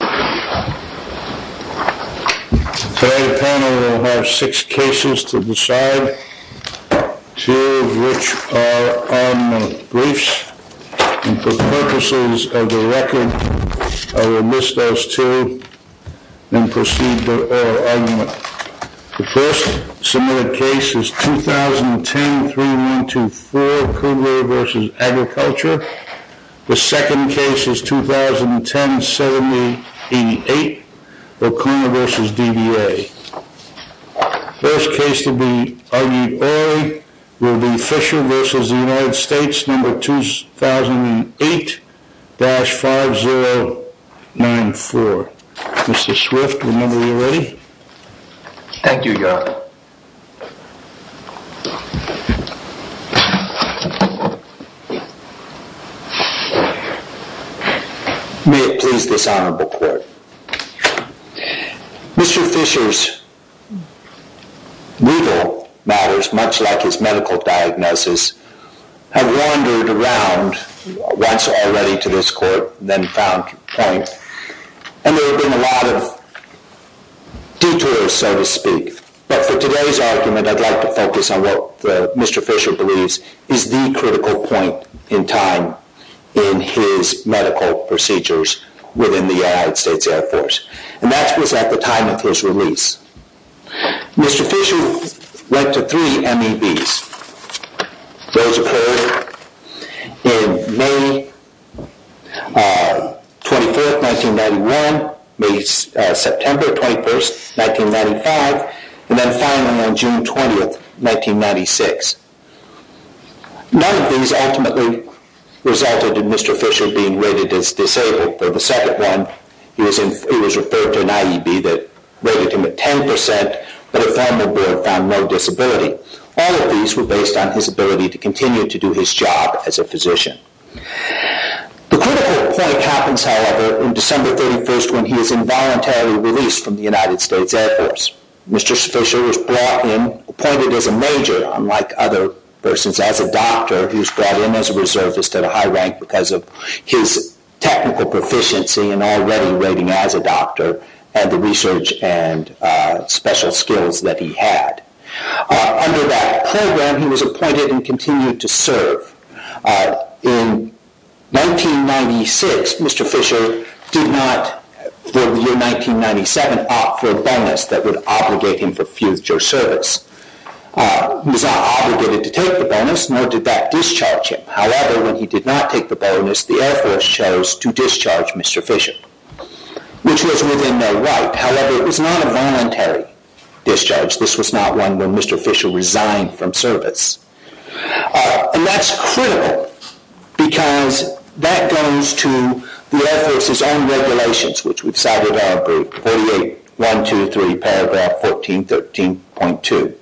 Today, the panel will have six cases to decide, two of which are armament briefs, and for purposes of the record, I will list those two and proceed to oral argument. The first submitted case is 2010-3124, Cougar v. Agriculture. The second case is 2010-7088, O'Connor v. DBA. First case to be argued orally will be Fisher v. United States, number 2008-5094. Mr. Swift, remember you're ready? Thank you, Your Honor. May it please this honorable court. Mr. Fisher's legal matters, much like his medical diagnosis, have wandered around once already to this court, then found point. And there have been a lot of detours, so to speak. But for today's argument, I'd like to focus on what Mr. Fisher believes is the critical point in time in his medical procedures within the United States Air Force. And that was at the time of his release. Mr. Fisher went to three MEBs. Those occurred in May 24th, 1991, September 21st, 1995, and then finally on June 20th, 1996. None of these ultimately resulted in Mr. Fisher being rated as disabled. For the second one, he was referred to an IEB that rated him at 10%, but a formal board found no disability. All of these were based on his ability to continue to do his job as a physician. The critical point happens, however, on December 31st when he is involuntarily released from the United States Air Force. Mr. Fisher was brought in, appointed as a major, unlike other persons, as a doctor. He was brought in as a reservist at a high rank because of his technical proficiency and already rating as a doctor and the research and special skills that he had. Under that program, he was appointed and continued to serve. In 1996, Mr. Fisher did not, for the year 1997, opt for a bonus that would obligate him for future service. He was not obligated to take the bonus, nor did that discharge him. However, when he did not take the bonus, the Air Force chose to discharge Mr. Fisher, which was within their right. However, it was not a voluntary discharge. This was not one where Mr. Fisher resigned from service. And that's critical because that goes to the Air Force's own regulations, which we've cited in our brief, 48.123, paragraph 14, 13.2.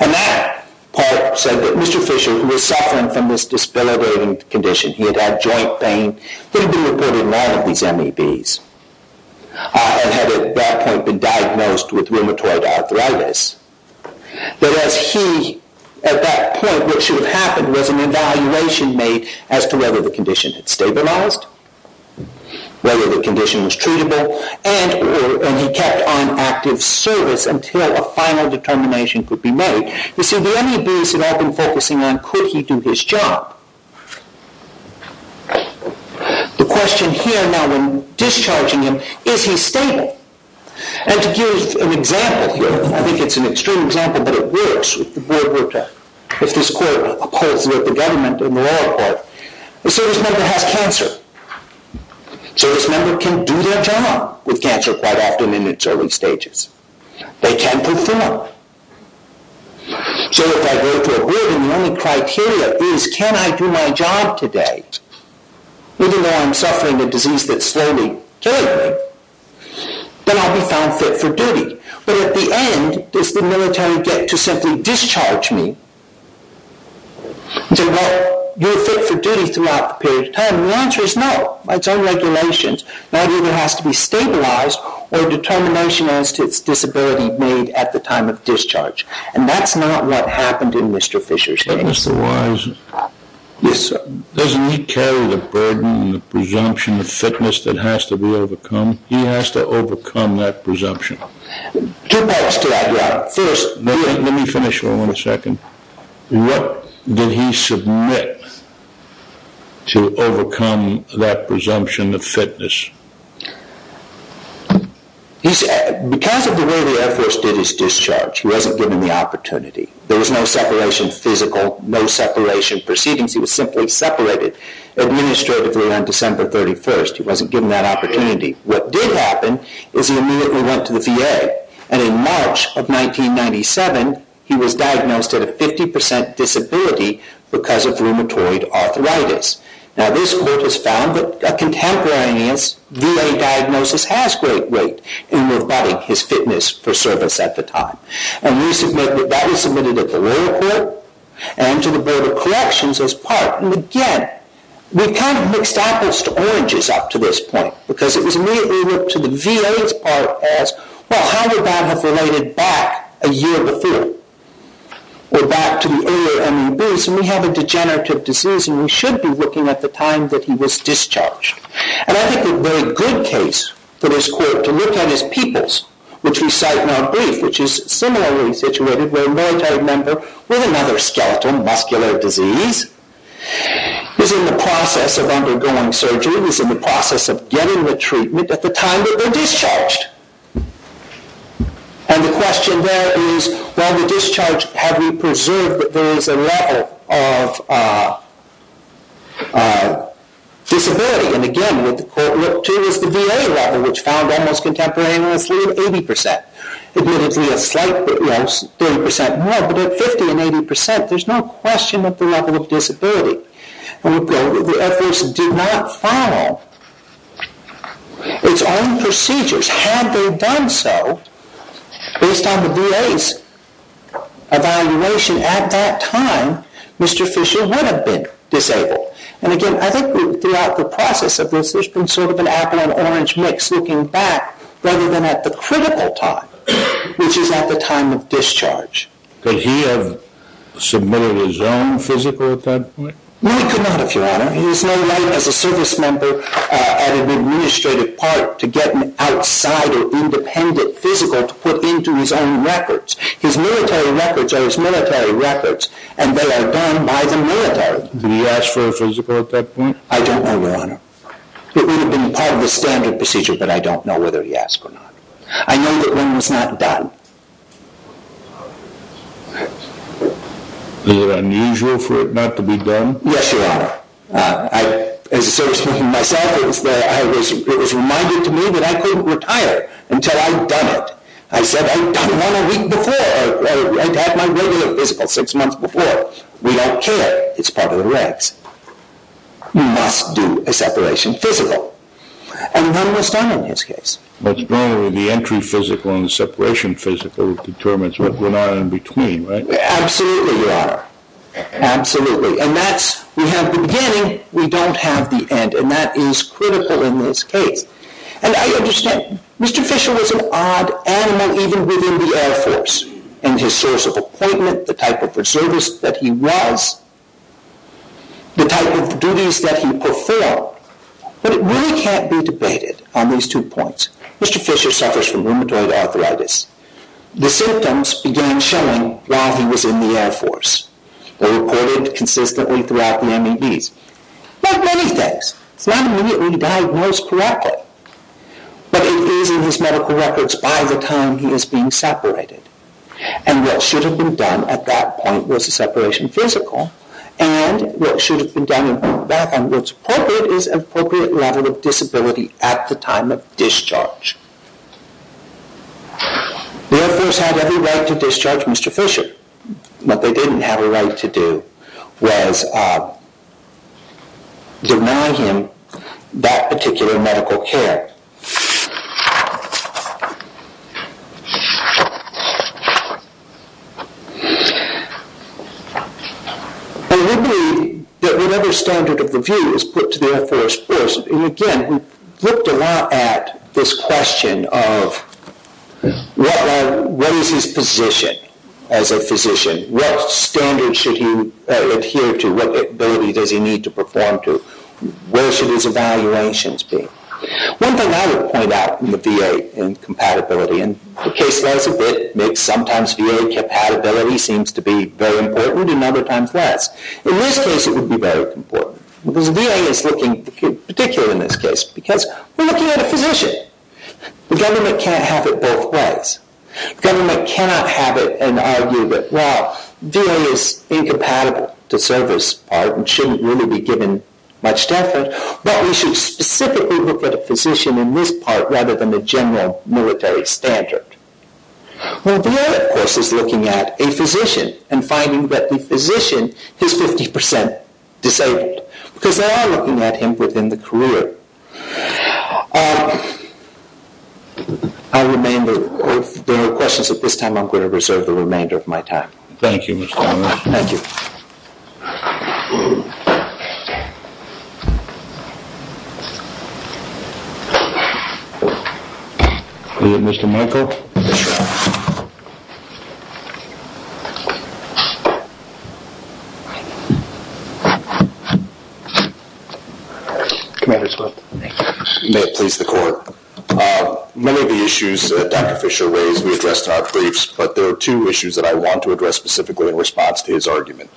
And that part said that Mr. Fisher, who was suffering from this disability condition, he had had joint pain, would have been reported in one of these MEBs and had at that point been diagnosed with rheumatoid arthritis. But as he, at that point, what should have happened was an evaluation made as to whether the condition had stabilized, whether the condition was treatable, and he kept on active service until a final determination could be made. You see, the MEBs had all been focusing on could he do his job. The question here now in discharging him, is he stable? And to give an example here, I think it's an extreme example, but it works, if the board were to, if this court upholds the government in the lower court, a service member has cancer. A service member can do their job with cancer quite often in its early stages. They can perform. So if I go to a board and the only criteria is can I do my job today, even though I'm suffering a disease that's slowly killing me, then I'll be found fit for duty. But at the end, does the military get to simply discharge me? Well, you're fit for duty throughout the period of time, and the answer is no. It's all regulations. That either has to be stabilized or determination as to its disability made at the time of discharge, and that's not what happened in Mr. Fisher's case. But Mr. Wise, doesn't he carry the burden and the presumption of fitness that has to be overcome? He has to overcome that presumption. Two parts to that, yeah. Let me finish for one second. What did he submit to overcome that presumption of fitness? Because of the way the Air Force did his discharge, he wasn't given the opportunity. There was no separation of physical, no separation of proceedings. He was simply separated administratively on December 31st. He wasn't given that opportunity. What did happen is he immediately went to the VA, and in March of 1997, he was diagnosed with a 50% disability because of rheumatoid arthritis. Now, this court has found that a contemporary VA diagnosis has great weight in rebutting his fitness for service at the time. And we submit that that was submitted at the lower court and to the Board of Corrections as part. And again, we've kind of mixed apples to oranges up to this point, because it was immediately looked to the VA's part as, well, how did that have related back a year before? We're back to the earlier MEBs, and we have a degenerative disease, and we should be looking at the time that he was discharged. And I think a very good case for this court to look at is Peoples, which we cite in our brief, which is similarly situated where a military member with another skeletal muscular disease is in the process of undergoing surgery, is in the process of getting the treatment at the time that they're discharged. And the question there is, well, the discharge, have we preserved that there is a level of disability? And again, what the court looked to is the VA level, which found almost contemporaneously at 80%. Admittedly, a slight bit less, 30% more, but at 50% and 80%, there's no question of the level of disability. And the efforts did not follow its own procedures. Had they done so, based on the VA's evaluation at that time, Mr. Fisher would have been disabled. And again, I think throughout the process of this, there's been sort of an apple and orange mix looking back, rather than at the critical time, which is at the time of discharge. Could he have submitted his own physical at that point? No, he could not, Your Honor. He has no right as a service member at an administrative part to get an outside or independent physical to put into his own records. His military records are his military records, and they are done by the military. Did he ask for a physical at that point? I don't know, Your Honor. It would have been part of the standard procedure, but I don't know whether he asked or not. I know that one was not done. Was it unusual for it not to be done? Yes, Your Honor. As a service member myself, it was reminded to me that I couldn't retire until I'd done it. I said, I'd done one a week before. I'd had my regular physical six months before. We don't care. It's part of the regs. You must do a separation physical. And none was done in his case. What's going on with the entry physical and the separation physical determines what went on in between, right? Absolutely, Your Honor. Absolutely. And that's we have the beginning, we don't have the end, and that is critical in this case. And I understand Mr. Fisher was an odd animal even within the Air Force in his source of appointment, the type of reservist that he was, the type of duties that he performed, but it really can't be debated on these two points. Mr. Fisher suffers from rheumatoid arthritis. The symptoms began showing while he was in the Air Force. They reported consistently throughout the MEDs. Like many things, it's not immediately diagnosed correctly, but it is in his medical records by the time he is being separated. And what should have been done at that point was a separation physical, and what should have been done and went back on what's appropriate is an appropriate level of disability at the time of discharge. The Air Force had every right to discharge Mr. Fisher. What they didn't have a right to do was deny him that particular medical care. And we believe that whatever standard of the view is put to the Air Force first, and again, we looked a lot at this question of what is his position as a physician? What standards should he adhere to? What ability does he need to perform to? Where should his evaluations be? One thing I would point out in the VA incompatibility, and the case lays a bit mixed. Sometimes VA compatibility seems to be very important and other times less. In this case, it would be very important, because VA is looking particular in this case because we're looking at a physician. The government can't have it both ways. The government cannot have it and argue that, well, VA is incompatible to service part and shouldn't really be given much effort, but we should specifically look at a physician in this part rather than a general military standard. Well, VA, of course, is looking at a physician and finding that the physician is 50% disabled, because they are looking at him within the career. If there are questions at this time, I'm going to reserve the remainder of my time. Thank you, Mr. Palmer. Thank you. Mr. Michael? Yes, Your Honor. Commander Swift. May it please the Court. Many of the issues that Dr. Fisher raised we addressed in our briefs, but there are two issues that I want to address specifically in response to his argument.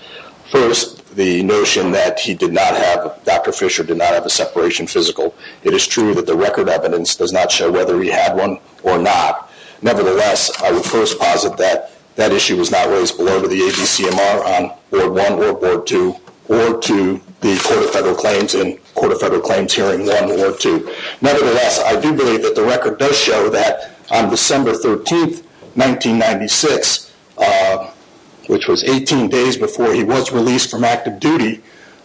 First, the notion that he did not have, Dr. Fisher did not have a separation physical. It is true that the record evidence does not show whether he had one or not. Nevertheless, I would first posit that that issue was not raised below to the ABCMR on Ward 1 or Ward 2 or to the Court of Federal Claims in Court of Federal Claims Hearing 1 or 2. Nevertheless, I do believe that the record does show that on December 13, 1996, which was 18 days before he was released from active duty,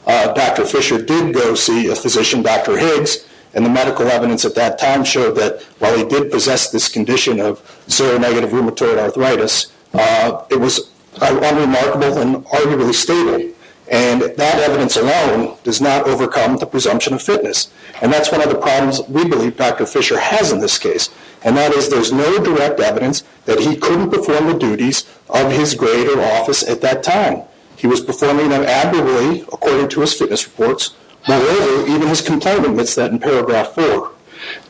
Dr. Fisher did go see a physician, Dr. Higgs, and the medical evidence at that time showed that while he did possess this condition of seronegative rheumatoid arthritis, it was unremarkable and arguably stable, and that evidence alone does not overcome the presumption of fitness. And that's one of the problems we believe Dr. Fisher has in this case, and that is there's no direct evidence that he couldn't perform the duties of his greater office at that time. He was performing them admirably, according to his fitness reports. Moreover, even his complaint admits that in paragraph 4.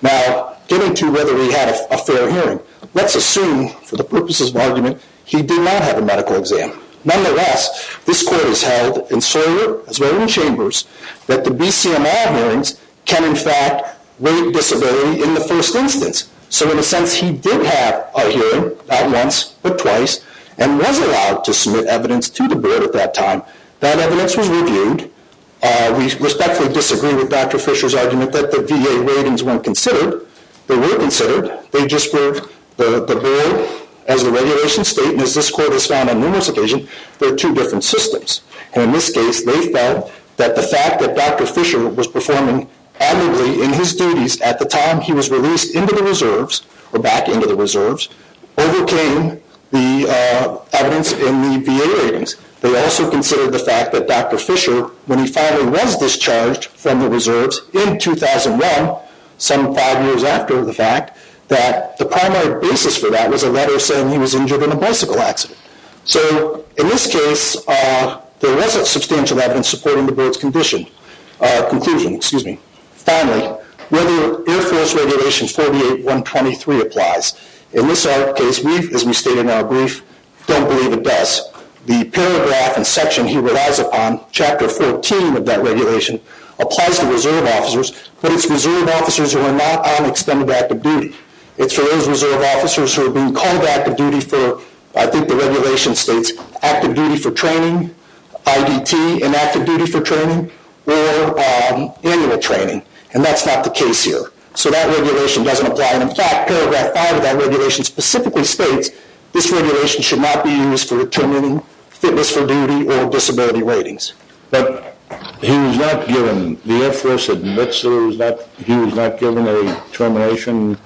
Now, getting to whether he had a fair hearing, let's assume, for the purposes of argument, he did not have a medical exam. Nonetheless, this Court has held in Soyer, as well as in Chambers, that the BCML hearings can, in fact, rate disability in the first instance. So, in a sense, he did have a hearing, not once, but twice, and was allowed to submit evidence to the Board at that time. That evidence was reviewed. We respectfully disagree with Dr. Fisher's argument that the VA ratings weren't considered. They were considered. They just were. The Board, as the regulations state, and as this Court has found on numerous occasions, there are two different systems. And in this case, they felt that the fact that Dr. Fisher was performing admirably in his duties at the time he was released into the Reserves, or back into the Reserves, overcame the evidence in the VA ratings. They also considered the fact that Dr. Fisher, when he finally was discharged from the Reserves in 2001, some five years after the fact, that the primary basis for that was a letter saying he was injured in a bicycle accident. So, in this case, there wasn't substantial evidence supporting the Board's conclusion. Finally, whether Air Force Regulation 48-123 applies. In this case, as we state in our brief, don't believe it does. The paragraph and section he relies upon, Chapter 14 of that regulation, applies to Reserve officers, but it's Reserve officers who are not on extended active duty. It's for those Reserve officers who are being called to active duty for, I think the regulation states, active duty for training, IDT and active duty for training, or annual training. And that's not the case here. So that regulation doesn't apply. In fact, paragraph 5 of that regulation specifically states this regulation should not be used for determining fitness for duty or disability ratings. But he was not given, the Air Force admits he was not given a termination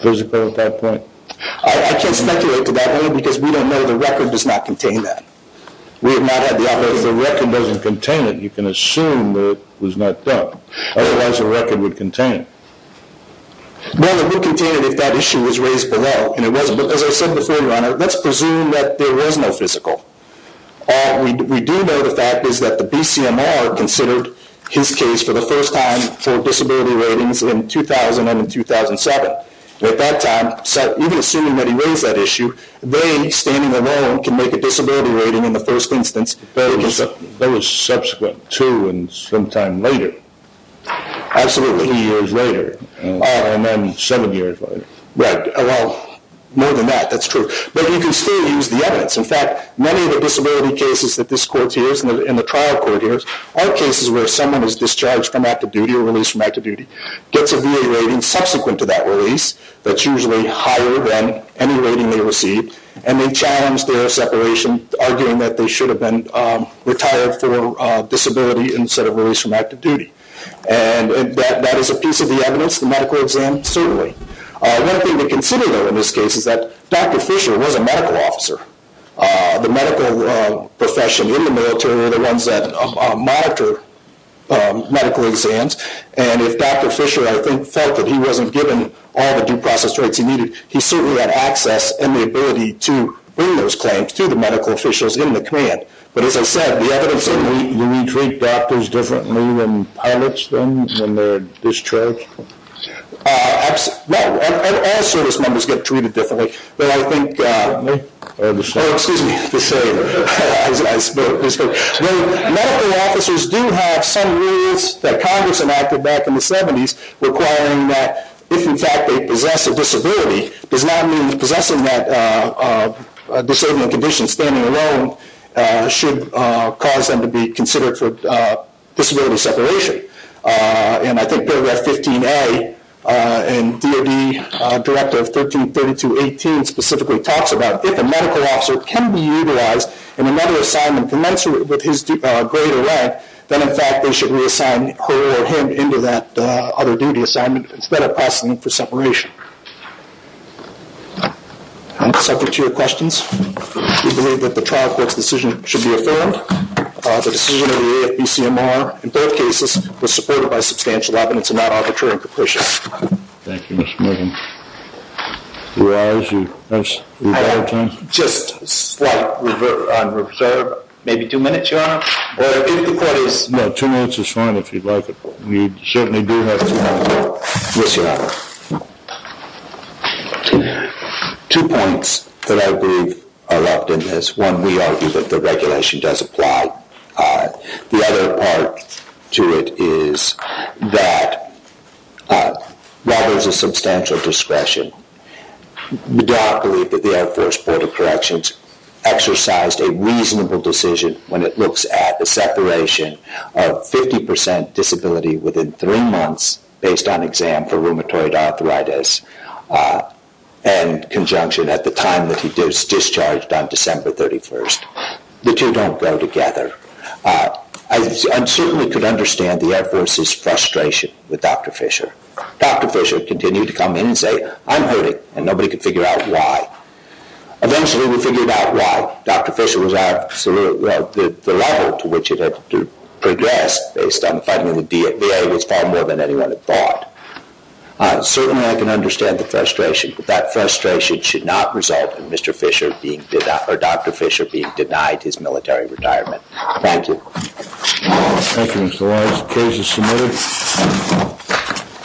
physical at that point? I can't speculate to that, because we don't know. The record does not contain that. We have not had the opportunity. If the record doesn't contain it, you can assume that it was not done. Otherwise, the record would contain it. Well, it would contain it if that issue was raised below, and it wasn't. But as I said before, Your Honor, let's presume that there was no physical. We do know the fact is that the BCMR considered his case for the first time for disability ratings in 2000 and in 2007. At that time, even assuming that he raised that issue, they, standing alone, can make a disability rating in the first instance. That was subsequent to and sometime later. Absolutely. Three years later, and then seven years later. Right. Well, more than that, that's true. But you can still use the evidence. In fact, many of the disability cases that this court hears and the trial court hears are cases where someone is discharged from active duty or released from active duty, gets a VA rating subsequent to that release that's usually higher than any rating they receive, and they challenge their separation, arguing that they should have been retired for disability instead of released from active duty. And that is a piece of the evidence, the medical exam, certainly. One thing to consider, though, in this case is that Dr. Fisher was a medical officer. The medical profession in the military are the ones that monitor medical exams, and if Dr. Fisher, I think, felt that he wasn't given all the due process rights he needed, he certainly had access and the ability to bring those claims to the medical officials in the command. But as I said, the evidence certainly — Do we treat doctors differently than pilots do when they're discharged? No. All service members get treated differently. But I think — Excuse me. Oh, excuse me. Just saying. Medical officers do have some rules that Congress enacted back in the 70s requiring that if, in fact, they possess a disability, it does not mean that possessing that disabling condition, standing alone, should cause them to be considered for disability separation. And I think paragraph 15A in DOD Directive 1332.18 specifically talks about, if a medical officer can be utilized in another assignment commensurate with his grade or rank, then, in fact, they should reassign her or him into that other duty assignment instead of processing them for separation. I'm subject to your questions. We believe that the trial court's decision should be affirmed. The decision of the AFB-CMR in both cases was supported by substantial evidence of non-arbitrary capriciousness. Thank you, Mr. Morgan. Do we have time? Just on reserve, maybe two minutes, Your Honor. Two minutes is fine if you'd like it. Yes, Your Honor. Two points that I believe are left in this. One, we argue that the regulation does apply. The other part to it is that while there is a substantial discretion, the DOD believed that the Air Force Board of Corrections exercised a reasonable decision when it looks at the separation of 50 percent disability within three months based on exam for rheumatoid arthritis and conjunction at the time that he was discharged on December 31st. The two don't go together. I certainly could understand the Air Force's frustration with Dr. Fisher. Dr. Fisher continued to come in and say, I'm hurting, and nobody could figure out why. Eventually, we figured out why. Dr. Fisher was absolutely, well, the level to which it had progressed based on the finding of the VA was far more than anyone had thought. Certainly, I can understand the frustration, but that frustration should not result in Mr. Fisher being, or Dr. Fisher being denied his military retirement. Thank you. Thank you, Mr. Lawrence. The case is submitted.